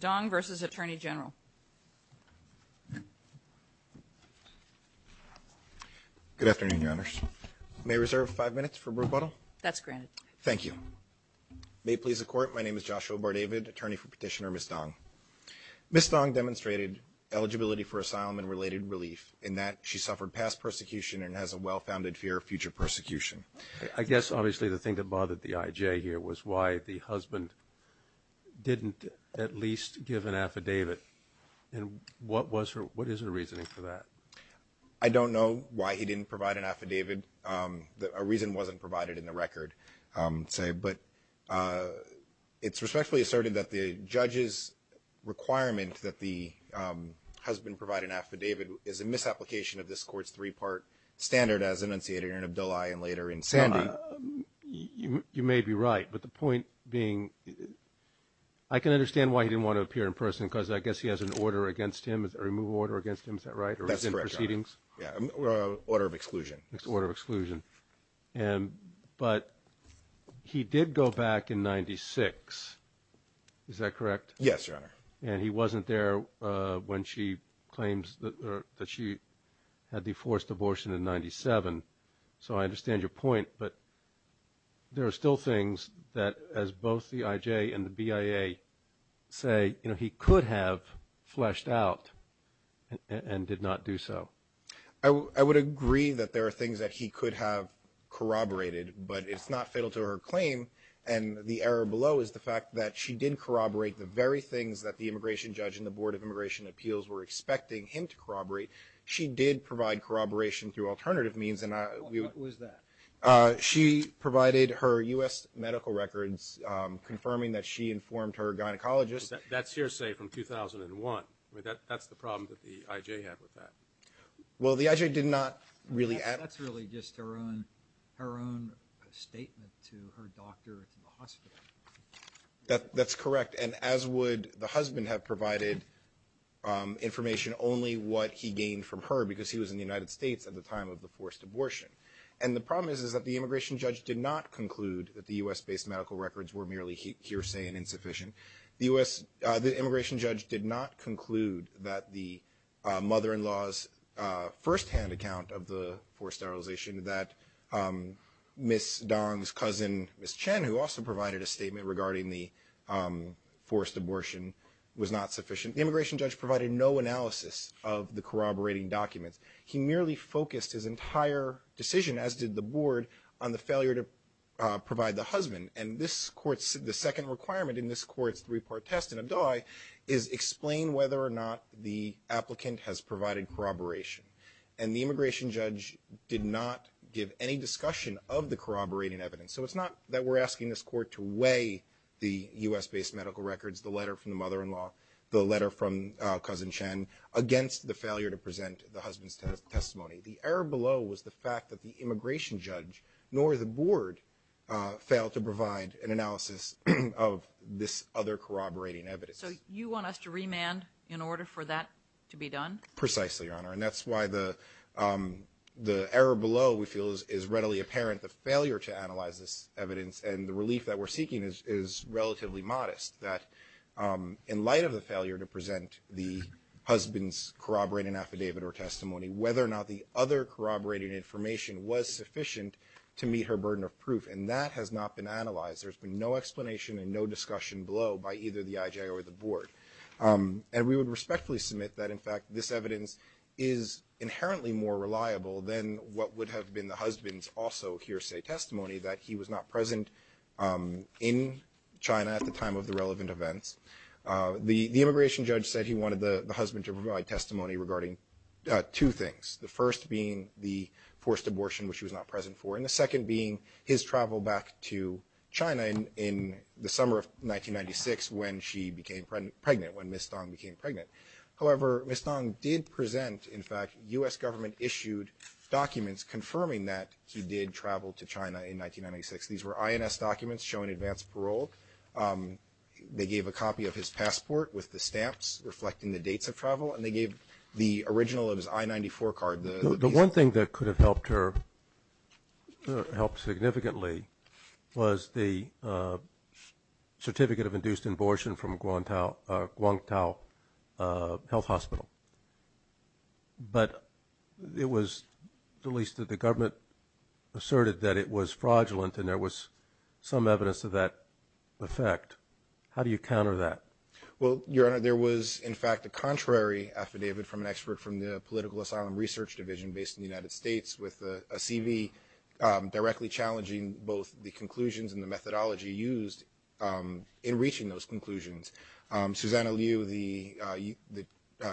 DONG vs. ATTORNEY GENERAL Good afternoon, Your Honors. May I reserve five minutes for rebuttal? That's granted. Thank you. May it please the Court, my name is Joshua Bardavid, attorney for Petitioner Ms. Dong. Ms. Dong demonstrated eligibility for asylum and related relief in that she suffered past persecution and has a well-founded fear of future persecution. I guess, obviously, the thing that bothered the I.J. here was why the husband didn't at least give an affidavit. And what was her – what is her reasoning for that? I don't know why he didn't provide an affidavit. A reason wasn't provided in the record, say, but it's respectfully asserted that the judge's requirement that the husband provide an affidavit is a misapplication of this Court's three-part standard as enunciated in Abdullah and later in Sandy. You may be right, but the point being, I can understand why he didn't want to appear in person because I guess he has an order against him, a removal order against him, is that right? That's correct, Your Honor. Or is it proceedings? Order of exclusion. It's order of exclusion. But he did go back in 96, is that correct? Yes, Your Honor. And he wasn't there when she claims that she had the forced abortion in 97. So I understand your point, but there are still things that, as both the I.J. and the BIA say, he could have fleshed out and did not do so. I would agree that there are things that he could have corroborated, but it's not fatal to her claim. And the error below is the fact that she did corroborate the very things that the immigration judge and the Board of Immigration Appeals were expecting him to corroborate. She did provide corroboration through alternative means. Who is that? She provided her U.S. medical records confirming that she informed her gynecologist. That's hearsay from 2001. That's the problem that the I.J. had with that. Well, the I.J. did not really add. That's really just her own statement to her doctor at the hospital. That's correct. And as would the husband have provided information only what he gained from her because he was in the United States at the time of the forced abortion. And the problem is that the immigration judge did not conclude that the U.S.-based medical records were merely hearsay and insufficient. The immigration judge did not conclude that the mother-in-law's firsthand account of the forced sterilization, that Ms. Dong's cousin, Ms. Chen, who also provided a statement regarding the forced abortion, was not sufficient. The immigration judge provided no analysis of the corroborating documents. He merely focused his entire decision, as did the board, on the failure to provide the husband. And this court's second requirement in this court's three-part test and a die is explain whether or not the applicant has provided corroboration. And the immigration judge did not give any discussion of the corroborating evidence. So it's not that we're asking this court to weigh the U.S.-based medical records, the letter from the mother-in-law, the letter from Cousin Chen, against the failure to present the husband's testimony. The error below was the fact that the immigration judge, nor the board, failed to provide an analysis of this other corroborating evidence. So you want us to remand in order for that to be done? Precisely, Your Honor. And that's why the error below we feel is readily apparent, the failure to analyze this evidence. And the relief that we're seeking is relatively modest, that in light of the failure to present the husband's corroborating affidavit or testimony, whether or not the other corroborating information was sufficient to meet her burden of proof. And that has not been analyzed. There's been no explanation and no discussion below by either the IJ or the board. And we would respectfully submit that, in fact, this evidence is inherently more reliable than what would have been the husband's also hearsay testimony, that he was not present in China at the time of the relevant events. The immigration judge said he wanted the husband to provide testimony regarding two things, the first being the forced abortion, which he was not present for, and the second being his travel back to China in the summer of 1996 when she became pregnant, when Ms. Dong became pregnant. However, Ms. Dong did present, in fact, U.S. government-issued documents confirming that he did travel to China in 1996. These were INS documents showing advanced parole. They gave a copy of his passport with the stamps reflecting the dates of travel, and they gave the original of his I-94 card. The one thing that could have helped her significantly was the certificate of induced abortion from Guangtao Health Hospital. But it was released that the government asserted that it was fraudulent, and there was some evidence of that effect. How do you counter that? Well, Your Honor, there was, in fact, a contrary affidavit from an expert from the Political Asylum Research Division based in the United States with a CV directly challenging both the conclusions and the methodology used in reaching those conclusions. Susanna Liu, the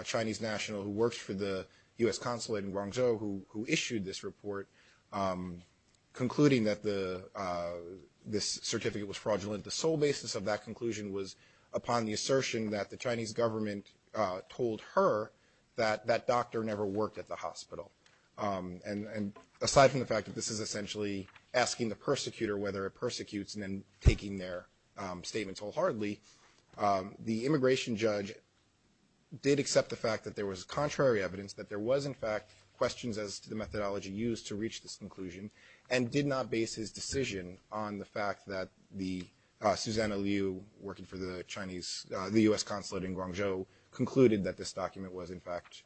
Chinese national who works for the U.S. consulate in Guangzhou, who issued this report concluding that this certificate was fraudulent, the sole basis of that conclusion was upon the assertion that the Chinese government told her that that doctor never worked at the hospital. And aside from the fact that this is essentially asking the persecutor whether it persecutes and then taking their statements wholeheartedly, the immigration judge did accept the fact that there was contrary evidence, that there was, in fact, questions as to the methodology used to reach this conclusion, and did not base his decision on the fact that the – Susanna Liu, working for the Chinese – the U.S. consulate in Guangzhou, concluded that this document was, in fact,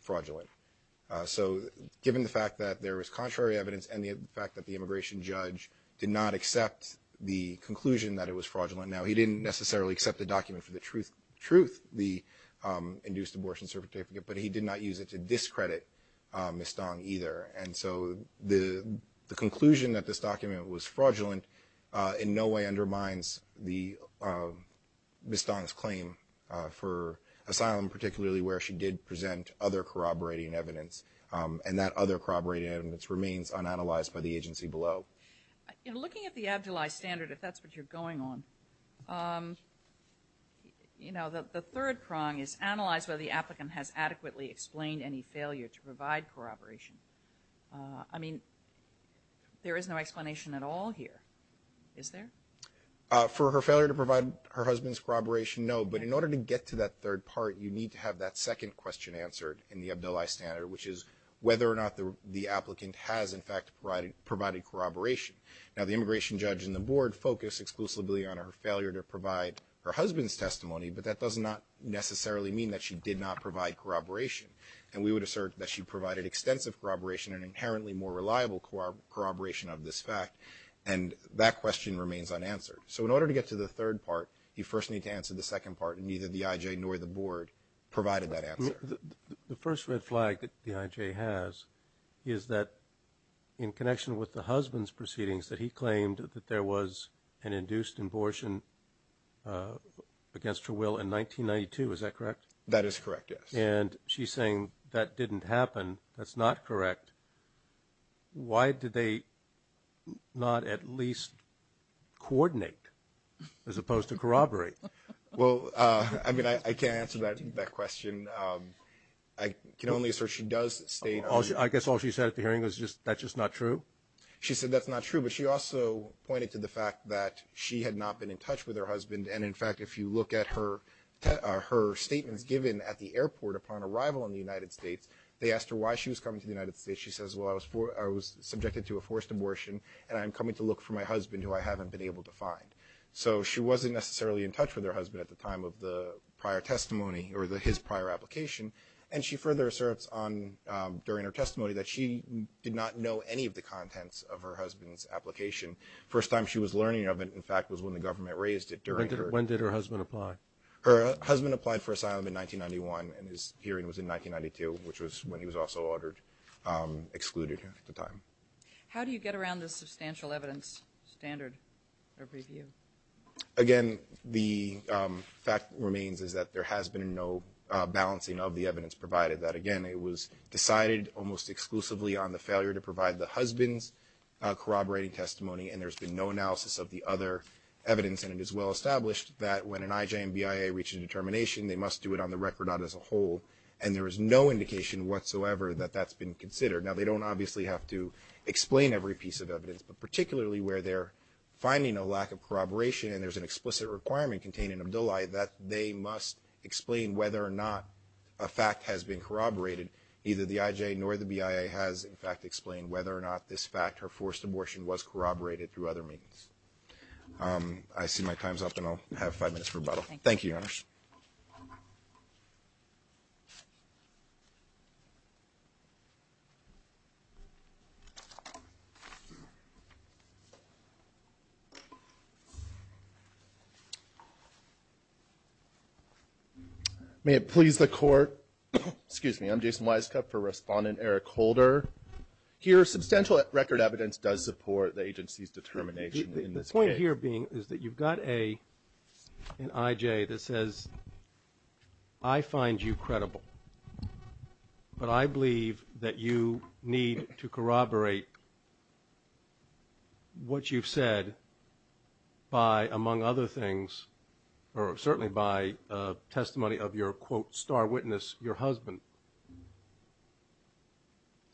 fraudulent. So given the fact that there was contrary evidence and the fact that the immigration judge did not accept the conclusion that it was fraudulent – now, he didn't necessarily accept the document for the truth, the induced abortion certificate, but he did not use it to discredit Ms. Dong either. And so the conclusion that this document was fraudulent in no way undermines Ms. Dong's claim for asylum, particularly where she did present other corroborating evidence. And that other corroborating evidence remains unanalyzed by the agency below. In looking at the abdullized standard, if that's what you're going on, you know, the third prong is analyze whether the applicant has adequately explained any failure to provide corroboration. I mean, there is no explanation at all here, is there? For her failure to provide her husband's corroboration, no. But in order to get to that third part, you need to have that second question answered in the abdullized standard, which is whether or not the applicant has, in fact, provided corroboration. Now, the immigration judge and the board focus exclusively on her failure to provide her husband's testimony, but that does not necessarily mean that she did not provide corroboration. And we would assert that she provided extensive corroboration and inherently more reliable corroboration of this fact. And that question remains unanswered. So in order to get to the third part, you first need to answer the second part, and neither the IJ nor the board provided that answer. The first red flag that the IJ has is that in connection with the husband's proceedings, that he claimed that there was an induced abortion against her will in 1992. Is that correct? That is correct, yes. And she's saying that didn't happen. That's not correct. Why did they not at least coordinate as opposed to corroborate? Well, I mean, I can't answer that question. I can only assert she does state. I guess all she said at the hearing was that's just not true? She said that's not true, but she also pointed to the fact that she had not been in touch with her husband. And, in fact, if you look at her statements given at the airport upon arrival in the United States, they asked her why she was coming to the United States. She says, well, I was subjected to a forced abortion, so she wasn't necessarily in touch with her husband at the time of the prior testimony or his prior application, and she further asserts during her testimony that she did not know any of the contents of her husband's application. The first time she was learning of it, in fact, was when the government raised it during her. When did her husband apply? Her husband applied for asylum in 1991, and his hearing was in 1992, which was when he was also ordered excluded at the time. How do you get around this substantial evidence standard or review? Again, the fact remains is that there has been no balancing of the evidence provided. That, again, it was decided almost exclusively on the failure to provide the husband's corroborating testimony, and there's been no analysis of the other evidence, and it is well established that when an IJMBIA reaches a determination, they must do it on the record, not as a whole, and there is no indication whatsoever that that's been considered. Now, they don't obviously have to explain every piece of evidence, but particularly where they're finding a lack of corroboration and there's an explicit requirement contained in Abdullah, that they must explain whether or not a fact has been corroborated. Neither the IJ nor the BIA has, in fact, explained whether or not this fact or forced abortion was corroborated through other means. I see my time's up, and I'll have five minutes for rebuttal. Thank you, Your Honor. May it please the Court. Excuse me. I'm Jason Weiskopf for Respondent Eric Holder. Here, substantial record evidence does support the agency's determination in this case. The point here being is that you've got an IJ that says, I find you credible, but I believe that you need to corroborate what you've said by, among other things, or certainly by testimony of your, quote, star witness, your husband.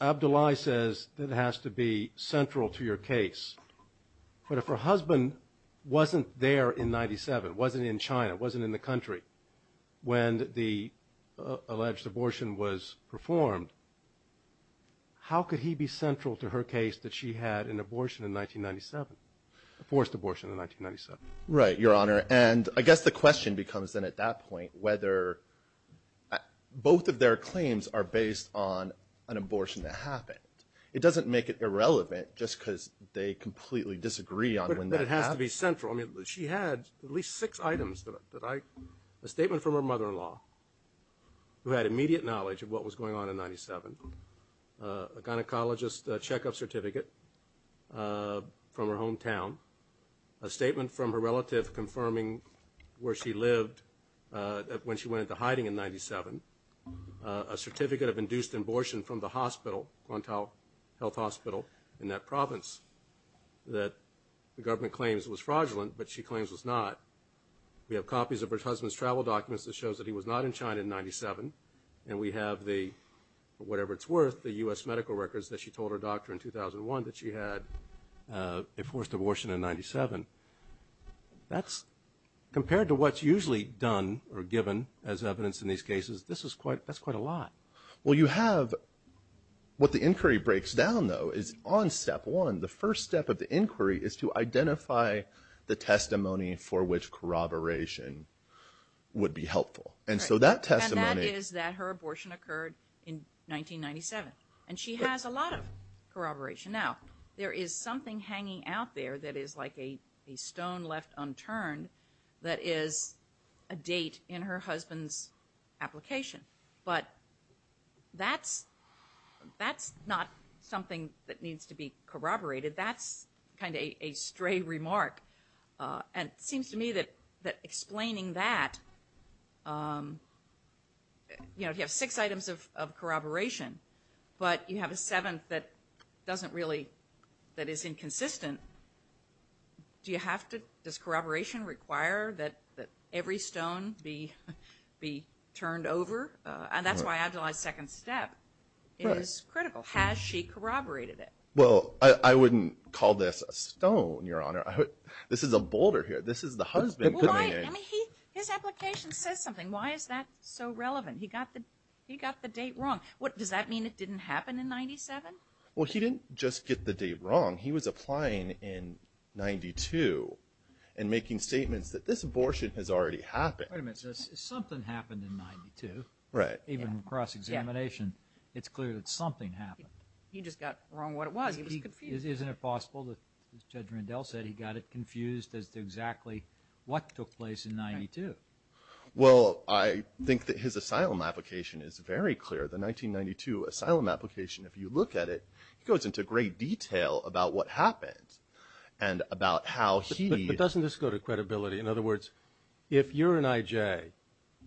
Abdullah says that has to be central to your case. But if her husband wasn't there in 1997, wasn't in China, wasn't in the country, when the alleged abortion was performed, how could he be central to her case that she had an abortion in 1997, a forced abortion in 1997? Right, Your Honor. And I guess the question becomes then at that point whether both of their claims are based on an abortion that happened. It doesn't make it irrelevant just because they completely disagree on when that happened. But it has to be central. I mean, she had at least six items that I, a statement from her mother-in-law, who had immediate knowledge of what was going on in 1997, a gynecologist checkup certificate from her hometown, a statement from her relative confirming where she lived when she went into hiding in 1997, a certificate of induced abortion from the hospital, Guantanamo Health Hospital, in that province that the government claims was fraudulent but she claims was not. We have copies of her husband's travel documents that shows that he was not in China in 1997. And we have the, whatever it's worth, the U.S. medical records that she told her doctor in 2001 that she had a forced abortion in 1997. That's, compared to what's usually done or given as evidence in these cases, this is quite, that's quite a lot. Well, you have, what the inquiry breaks down though is on step one, the first step of the inquiry is to identify the testimony for which corroboration would be helpful. And so that testimony. And that is that her abortion occurred in 1997. And she has a lot of corroboration. Now, there is something hanging out there that is like a stone left unturned that is a date in her husband's application. But that's not something that needs to be corroborated. That's kind of a stray remark. And it seems to me that explaining that, you know, if you have a seventh that doesn't really, that is inconsistent, do you have to, does corroboration require that every stone be turned over? And that's why Adelaide's second step is critical. Has she corroborated it? Well, I wouldn't call this a stone, Your Honor. This is a boulder here. This is the husband putting it in. His application says something. Why is that so relevant? He got the date wrong. Does that mean it didn't happen in 97? Well, he didn't just get the date wrong. He was applying in 92 and making statements that this abortion has already happened. Wait a minute. Something happened in 92. Right. Even in cross-examination, it's clear that something happened. He just got wrong what it was. He was confused. Isn't it possible that Judge Rendell said he got it confused as to exactly what took place in 92? Well, I think that his asylum application is very clear. The 1992 asylum application, if you look at it, goes into great detail about what happened and about how he— But doesn't this go to credibility? In other words, if you're an I.J.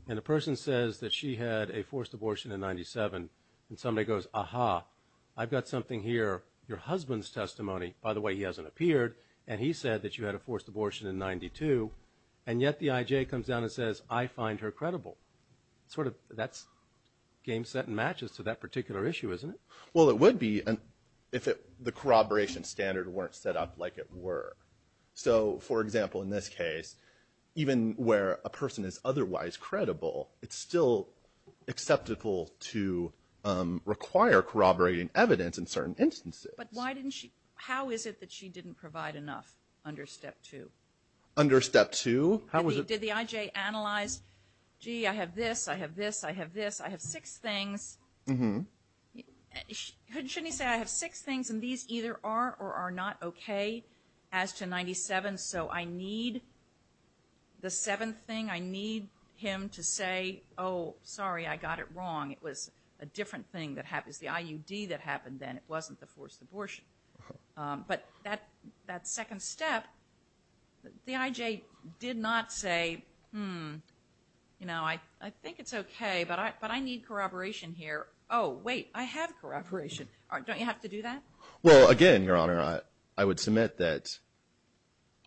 and a person says that she had a forced abortion in 97, and somebody goes, Aha, I've got something here, your husband's testimony. By the way, he hasn't appeared, and he said that you had a forced abortion in 92, and yet the I.J. comes down and says, I find her credible. That's game, set, and matches to that particular issue, isn't it? Well, it would be if the corroboration standard weren't set up like it were. So, for example, in this case, even where a person is otherwise credible, it's still acceptable to require corroborating evidence in certain instances. But how is it that she didn't provide enough under Step 2? Under Step 2? Did the I.J. analyze, gee, I have this, I have this, I have this, I have six things. Shouldn't he say, I have six things, and these either are or are not okay as to 97, so I need the seventh thing. I need him to say, oh, sorry, I got it wrong. It was a different thing that happened. It was the I.U.D. that happened then. It wasn't the forced abortion. But that second step, the I.J. did not say, hmm, you know, I think it's okay, but I need corroboration here. Oh, wait, I have corroboration. Don't you have to do that? Well, again, Your Honor, I would submit that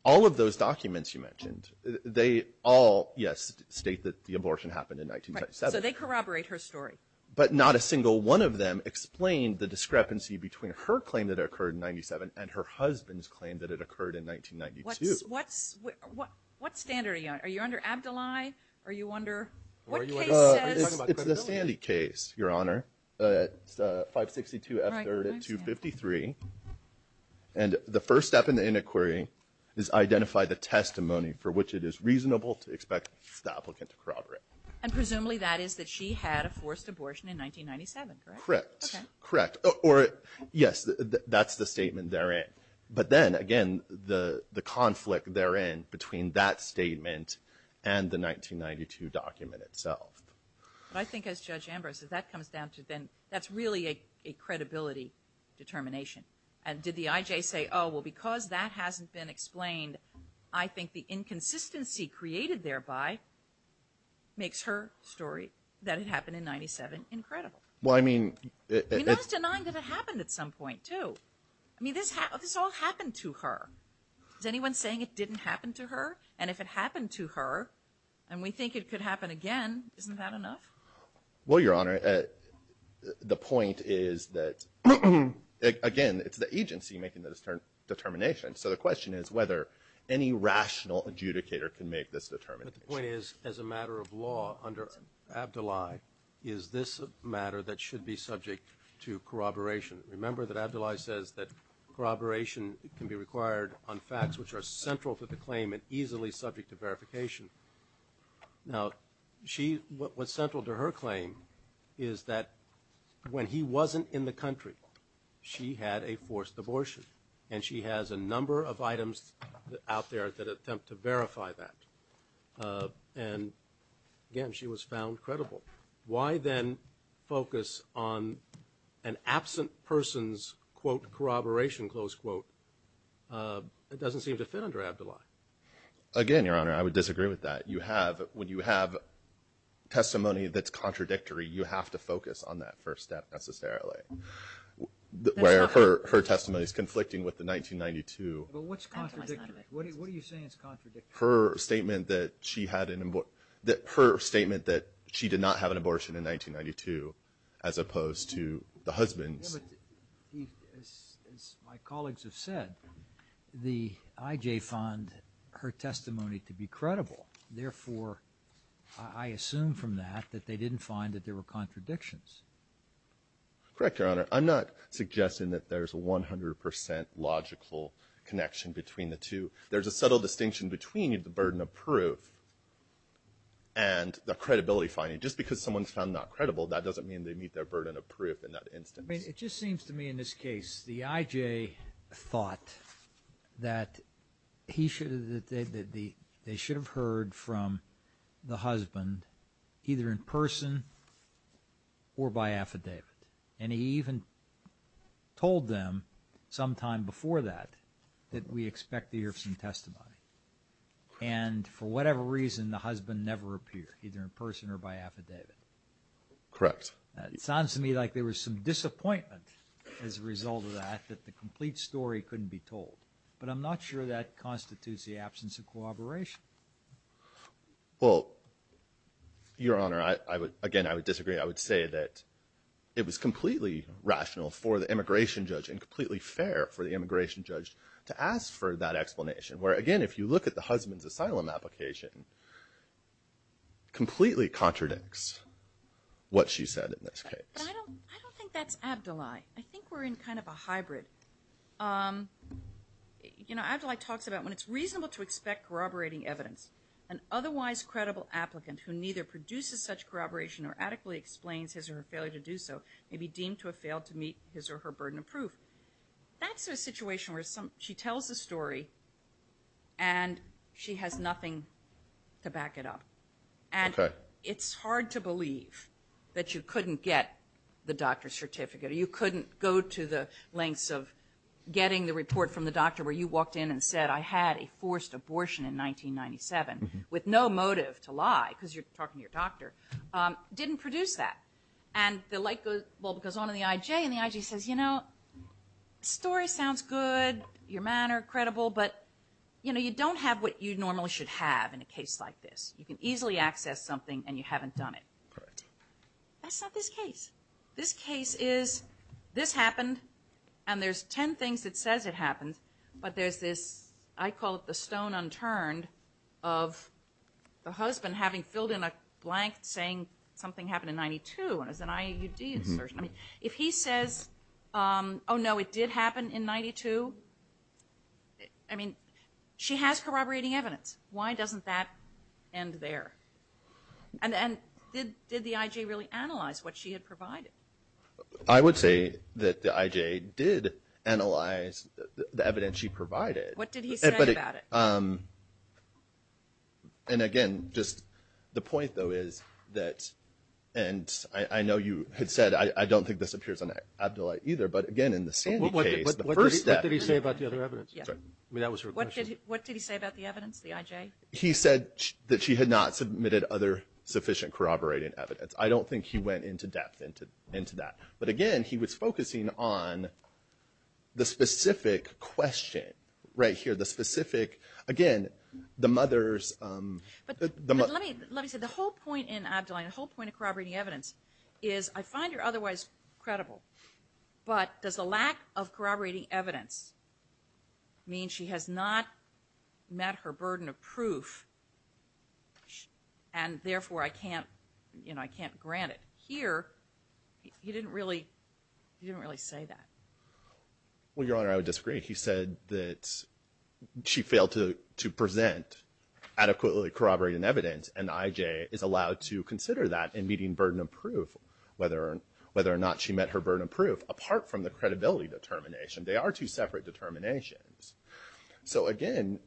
all of those documents you mentioned, they all, yes, state that the abortion happened in 1997. Right, so they corroborate her story. But not a single one of them explained the discrepancy between her claim that it occurred in 1997 and her husband's claim that it occurred in 1992. What standard are you on? Are you under Abdullahi? Are you under, what case says? It's the Sandy case, Your Honor, 562 F3rd and 253. And the first step in the iniquiry is identify the testimony for which it is reasonable to expect the applicant to corroborate. And presumably that is that she had a forced abortion in 1997, correct? Correct. Okay. Correct. Or, yes, that's the statement therein. But then, again, the conflict therein between that statement and the 1992 document itself. But I think as Judge Ambrose, if that comes down to then, that's really a credibility determination. And did the I.J. say, oh, well, because that hasn't been explained, I think the inconsistency created thereby makes her story that it happened in 1997 incredible. Well, I mean, it's... We're not denying that it happened at some point, too. I mean, this all happened to her. Is anyone saying it didn't happen to her? And if it happened to her and we think it could happen again, isn't that enough? Well, Your Honor, the point is that, again, it's the agency making the determination. So the question is whether any rational adjudicator can make this determination. But the point is, as a matter of law, under Abdoulaye is this a matter that should be subject to corroboration. Remember that Abdoulaye says that corroboration can be required on facts which are central to the claim and easily subject to verification. Now, what's central to her claim is that when he wasn't in the country, she had a forced abortion, and she has a number of items out there that attempt to verify that. And, again, she was found credible. Why then focus on an absent person's, quote, corroboration, close quote? It doesn't seem to fit under Abdoulaye. Again, Your Honor, I would disagree with that. You have, when you have testimony that's contradictory, you have to focus on that first step necessarily, where her testimony is conflicting with the 1992. But what's contradictory? What are you saying is contradictory? Her statement that she did not have an abortion in 1992, as opposed to the husband's. Yeah, but as my colleagues have said, the IJ found her testimony to be credible. Therefore, I assume from that, that they didn't find that there were contradictions. Correct, Your Honor. I'm not suggesting that there's a 100% logical connection between the two. There's a subtle distinction between the burden of proof and the credibility finding. Just because someone's found not credible, that doesn't mean they meet their burden of proof in that instance. I mean, it just seems to me in this case, the IJ thought that they should have heard from the husband either in person or by affidavit. And he even told them sometime before that, that we expect to hear some testimony. And for whatever reason, the husband never appeared, either in person or by affidavit. Correct. It sounds to me like there was some disappointment as a result of that, that the complete story couldn't be told. But I'm not sure that constitutes the absence of cooperation. Well, Your Honor, again, I would disagree. I would say that it was completely rational for the immigration judge and completely fair for the immigration judge to ask for that explanation. Where, again, if you look at the husband's asylum application, completely contradicts what she said in this case. But I don't think that's Abdoulaye. I think we're in kind of a hybrid. You know, Abdoulaye talks about when it's reasonable to expect corroborating evidence, an otherwise credible applicant who neither produces such corroboration or adequately explains his or her failure to do so may be deemed to have failed to meet his or her burden of proof. That's a situation where she tells the story and she has nothing to back it up. And it's hard to believe that you couldn't get the doctor's certificate or you couldn't go to the lengths of getting the report from the doctor where you walked in and said, I had a forced abortion in 1997 with no motive to lie, because you're talking to your doctor, didn't produce that. And the light bulb goes on in the I.J. and the I.J. says, you know, story sounds good, your manner credible, but, you know, you don't have what you normally should have in a case like this. You can easily access something and you haven't done it. That's not this case. This case is, this happened, and there's ten things that says it happened, but there's this, I call it the stone unturned, of the husband having filled in a blank saying something happened in 92 and it was an I.U.D. insertion. I mean, if he says, oh, no, it did happen in 92, I mean, she has corroborating evidence. Why doesn't that end there? And did the I.J. really analyze what she had provided? I would say that the I.J. did analyze the evidence she provided. What did he say about it? And, again, just the point, though, is that, and I know you had said, I don't think this appears on Abdullahi either, but, again, in the Sandy case, the first step. What did he say about the other evidence? I mean, that was her question. What did he say about the evidence, the I.J.? He said that she had not submitted other sufficient corroborating evidence. I don't think he went into depth into that. But, again, he was focusing on the specific question right here, the specific, again, the mother's. Let me say, the whole point in Abdullahi, the whole point of corroborating evidence is I find her otherwise credible, but does the lack of corroborating evidence mean she has not met her burden of proof and, therefore, I can't grant it? Here, he didn't really say that. Well, Your Honor, I would disagree. He said that she failed to present adequately corroborating evidence, and the I.J. is allowed to consider that in meeting burden of proof, whether or not she met her burden of proof, apart from the credibility determination. They are two separate determinations. So, again,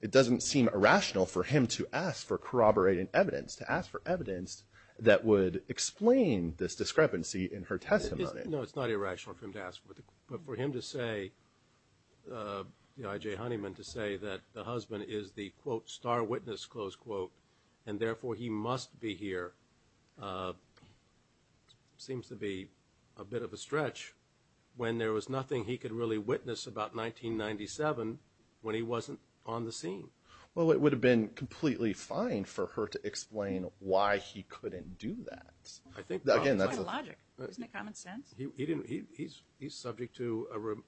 it doesn't seem irrational for him to ask for corroborating evidence, to ask for evidence that would explain this discrepancy in her testimony. No, it's not irrational for him to ask for it. But for him to say, the I.J. Honeyman, to say that the husband is the, quote, star witness, close quote, and, therefore, he must be here seems to be a bit of a stretch when there was nothing he could really witness about 1997 when he wasn't on the scene. Well, it would have been completely fine for her to explain why he couldn't do that. I think that's logic. Isn't it common sense? He's subject to an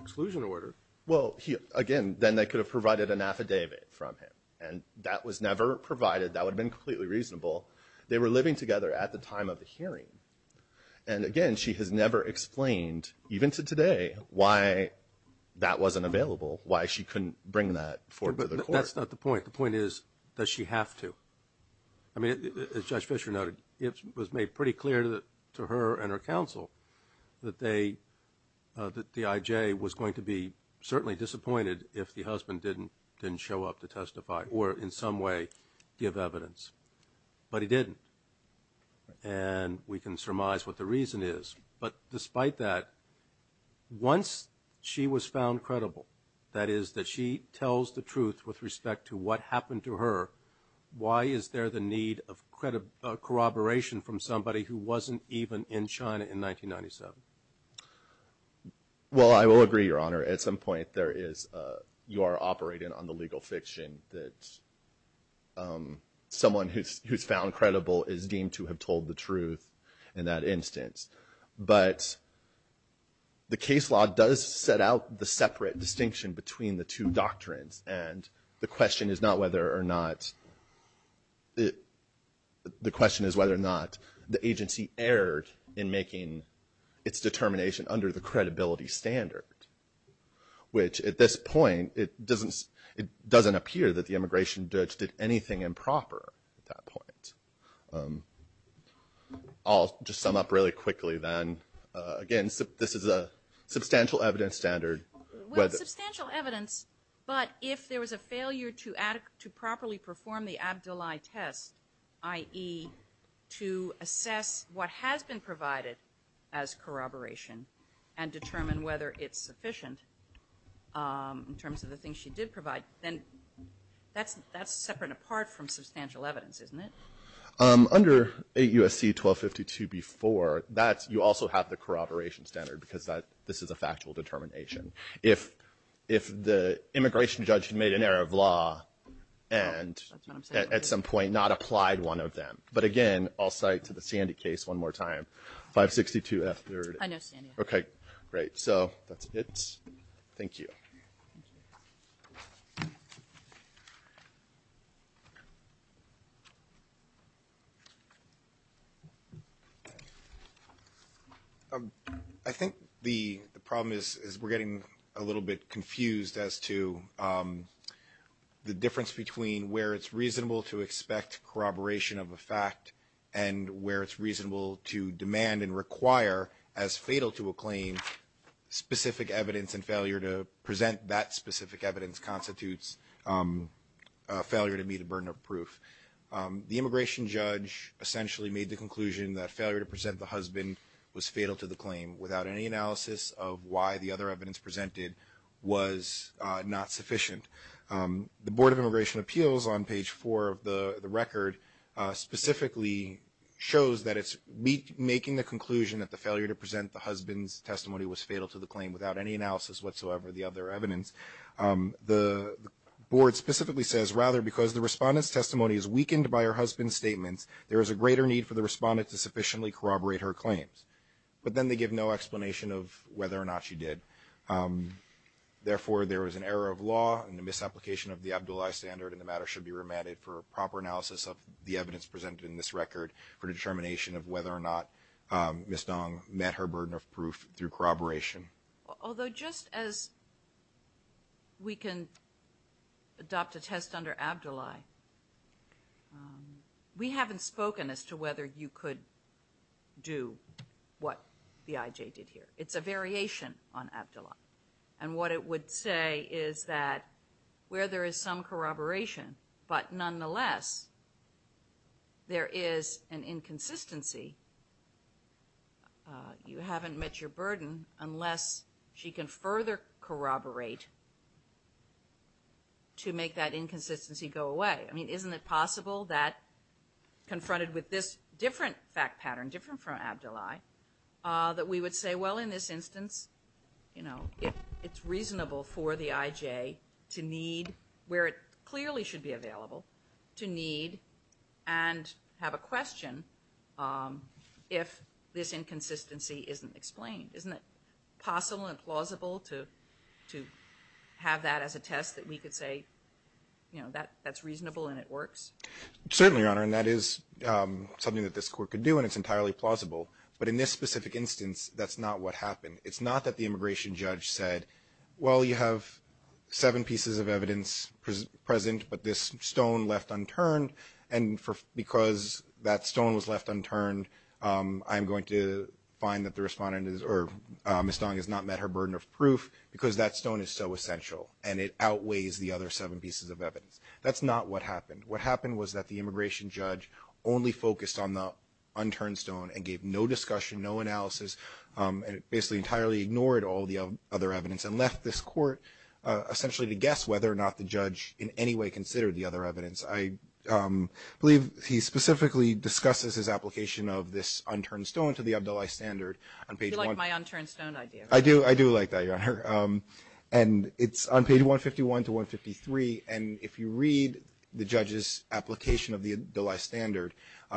exclusion order. Well, again, then they could have provided an affidavit from him, and that was never provided. That would have been completely reasonable. They were living together at the time of the hearing. And, again, she has never explained, even to today, why that wasn't available, why she couldn't bring that forward to the court. That's not the point. The point is, does she have to? I mean, as Judge Fischer noted, it was made pretty clear to her and her counsel that the I.J. was going to be certainly disappointed if the husband didn't show up to testify or in some way give evidence. But he didn't. And we can surmise what the reason is. But despite that, once she was found credible, that is, that she tells the truth with respect to what happened to her, why is there the need of corroboration from somebody who wasn't even in China in 1997? Well, I will agree, Your Honor. At some point you are operating on the legal fiction that someone who's found credible is deemed to have told the truth in that instance. But the case law does set out the separate distinction between the two doctrines, and the question is whether or not the agency erred in making its determination under the credibility standard, which at this point it doesn't appear that the immigration judge did anything improper at that point. I'll just sum up really quickly then. Again, this is a substantial evidence standard. Well, it's substantial evidence, but if there was a failure to properly perform the Abdullahi test, i.e., to assess what has been provided as corroboration and determine whether it's sufficient in terms of the things she did provide, then that's separate and apart from substantial evidence, isn't it? Under 8 U.S.C. 1252b.4, you also have the corroboration standard because this is a factual determination. If the immigration judge had made an error of law and at some point not applied one of them. But again, I'll cite to the Sandy case one more time, 562F. I know Sandy. Okay, great. So that's it. Thank you. Thank you. I think the problem is we're getting a little bit confused as to the difference between where it's reasonable to expect corroboration of a fact and where it's reasonable to demand and require as fatal to a claim specific evidence and failure to present that specific evidence constitutes failure to meet a burden of proof. The immigration judge essentially made the conclusion that failure to present the husband was fatal to the claim without any analysis of why the other evidence presented was not sufficient. The Board of Immigration Appeals on page 4 of the record specifically shows that it's making the conclusion that the failure to present the husband's testimony was fatal to the claim without any analysis whatsoever of the other evidence. The board specifically says, rather because the respondent's testimony is weakened by her husband's statements, there is a greater need for the respondent to sufficiently corroborate her claims. But then they give no explanation of whether or not she did. Therefore, there was an error of law and a misapplication of the Abdullahi standard and the matter should be remanded for proper analysis of the evidence presented in this record for determination of whether or not Ms. Dong met her burden of proof through corroboration. Although just as we can adopt a test under Abdullahi, we haven't spoken as to whether you could do what the IJ did here. It's a variation on Abdullahi. And what it would say is that where there is some corroboration, but nonetheless, there is an inconsistency. You haven't met your burden unless she can further corroborate to make that inconsistency go away. I mean, isn't it possible that confronted with this different fact pattern, different from Abdullahi, that we would say, well, in this instance, you know, it's reasonable for the IJ to need, where it clearly should be available, to need and have a question if this inconsistency isn't explained. Isn't it possible and plausible to have that as a test that we could say, you know, that's reasonable and it works? Certainly, Your Honor, and that is something that this Court could do and it's entirely plausible. But in this specific instance, that's not what happened. It's not that the immigration judge said, well, you have seven pieces of evidence present, but this stone left unturned, and because that stone was left unturned, I'm going to find that the respondent is, or Ms. Dong has not met her burden of proof, because that stone is so essential and it outweighs the other seven pieces of evidence. That's not what happened. What happened was that the immigration judge only focused on the unturned stone and gave no discussion, no analysis, and basically entirely ignored all the other evidence and left this Court essentially to guess whether or not the judge in any way considered the other evidence. I believe he specifically discusses his application of this unturned stone to the Abdullahi standard. Do you like my unturned stone idea? I do. I do like that, Your Honor. And it's on page 151 to 153, and if you read the judge's application of the Abdullahi standard,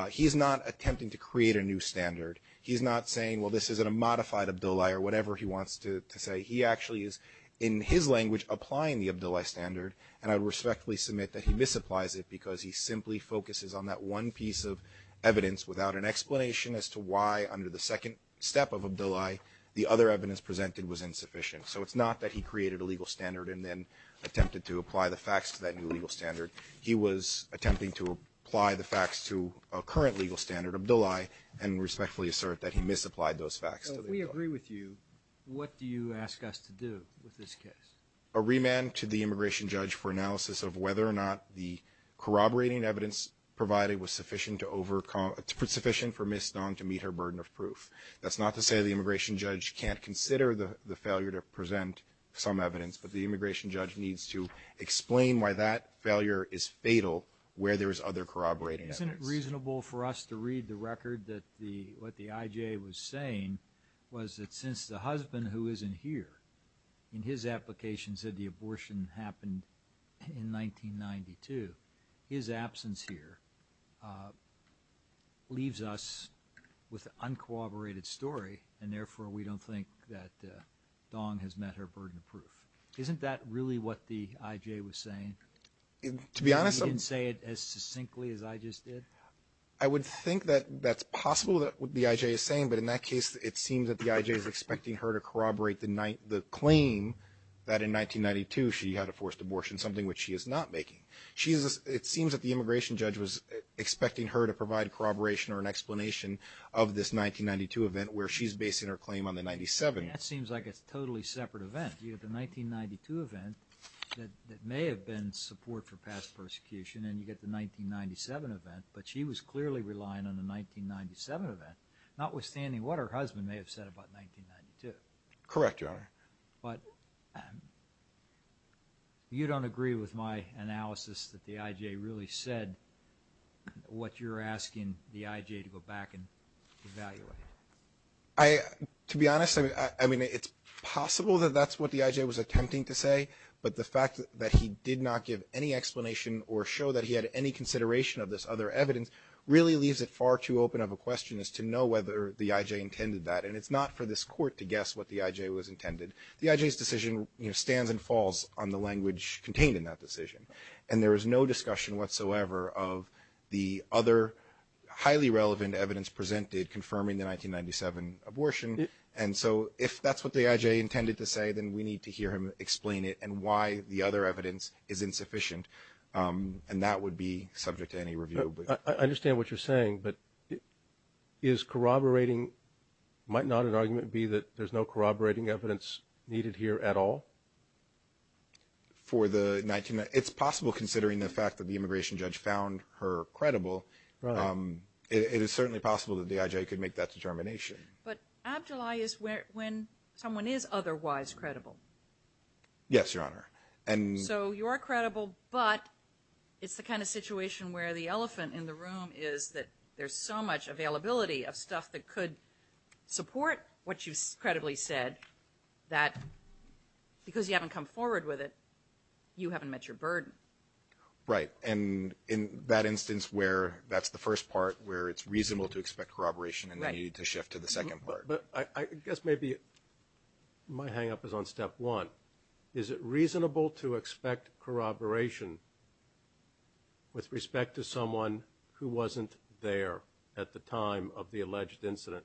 he's not attempting to create a new standard. He's not saying, well, this isn't a modified Abdullahi or whatever he wants to say. He actually is, in his language, applying the Abdullahi standard, and I respectfully submit that he misapplies it because he simply focuses on that one piece of evidence without an explanation as to why, under the second step of Abdullahi, the other evidence presented was insufficient. So it's not that he created a legal standard and then attempted to apply the facts to that new legal standard. He was attempting to apply the facts to a current legal standard, Abdullahi, and respectfully assert that he misapplied those facts to the Abdullahi. So if we agree with you, what do you ask us to do with this case? A remand to the immigration judge for analysis of whether or not the corroborating evidence provided was sufficient for Ms. Dong to meet her burden of proof. That's not to say the immigration judge can't consider the failure to present some evidence, but the immigration judge needs to explain why that failure is fatal where there is other corroborating evidence. Isn't it reasonable for us to read the record that what the IJ was saying was that since the husband, who isn't here, in his application said the abortion happened in 1992, his absence here leaves us with an uncooperated story, and therefore we don't think that Dong has met her burden of proof. Isn't that really what the IJ was saying? To be honest, I would think that that's possible, what the IJ is saying, but in that case it seems that the IJ is expecting her to corroborate the claim that in 1992 she had a forced abortion, something which she is not making. It seems that the immigration judge was expecting her to provide corroboration or an explanation of this 1992 event where she's basing her claim on the 1997. That seems like a totally separate event. You have the 1992 event that may have been support for past persecution, and you get the 1997 event, but she was clearly relying on the 1997 event, notwithstanding what her husband may have said about 1992. Correct, Your Honor. But you don't agree with my analysis that the IJ really said what you're asking the IJ to go back and evaluate. To be honest, I mean, it's possible that that's what the IJ was attempting to say, but the fact that he did not give any explanation or show that he had any consideration of this other evidence really leaves it far too open of a question as to know whether the IJ intended that. And it's not for this court to guess what the IJ was intended. The IJ's decision stands and falls on the language contained in that decision, and there is no discussion whatsoever of the other highly relevant evidence presented confirming the 1997 abortion. And so if that's what the IJ intended to say, then we need to hear him explain it and why the other evidence is insufficient, and that would be subject to any review. I understand what you're saying, but is corroborating – might not an argument be that there's no corroborating evidence needed here at all? For the – it's possible, considering the fact that the immigration judge found her credible. It is certainly possible that the IJ could make that determination. But abdullah is when someone is otherwise credible. Yes, Your Honor. So you are credible, but it's the kind of situation where the elephant in the room is that there's so much availability of stuff that could support what you've credibly said that because you haven't come forward with it, you haven't met your burden. Right, and in that instance where that's the first part where it's reasonable to expect corroboration and then you need to shift to the second part. But I guess maybe my hang-up is on step one. Is it reasonable to expect corroboration with respect to someone who wasn't there at the time of the alleged incident?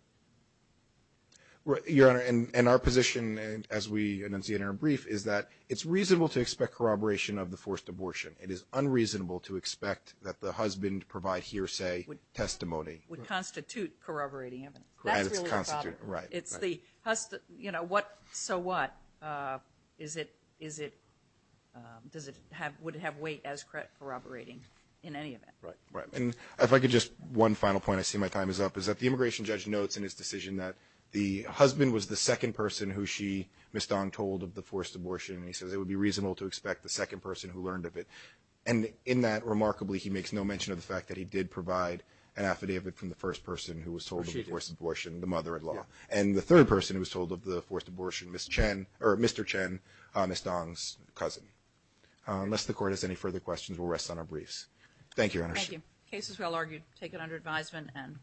Your Honor, and our position, as we announce the interim brief, is that it's reasonable to expect corroboration of the forced abortion. It is unreasonable to expect that the husband provide hearsay testimony. Would constitute corroborating evidence. That's really the problem. Right, right. It's the, you know, what, so what? Is it, does it have, would it have weight as corroborating in any event? Right, right. And if I could just, one final point, I see my time is up, is that the immigration judge notes in his decision that the husband was the second person who she, Ms. Dong, told of the forced abortion, and he says it would be reasonable to expect the second person who learned of it. And in that, remarkably, he makes no mention of the fact that he did provide an affidavit from the first person who was told of the forced abortion, the mother-in-law. And the third person who was told of the forced abortion, Ms. Chen, or Mr. Chen, Ms. Dong's cousin. Unless the Court has any further questions, we'll rest on our briefs. Thank you, Your Honor.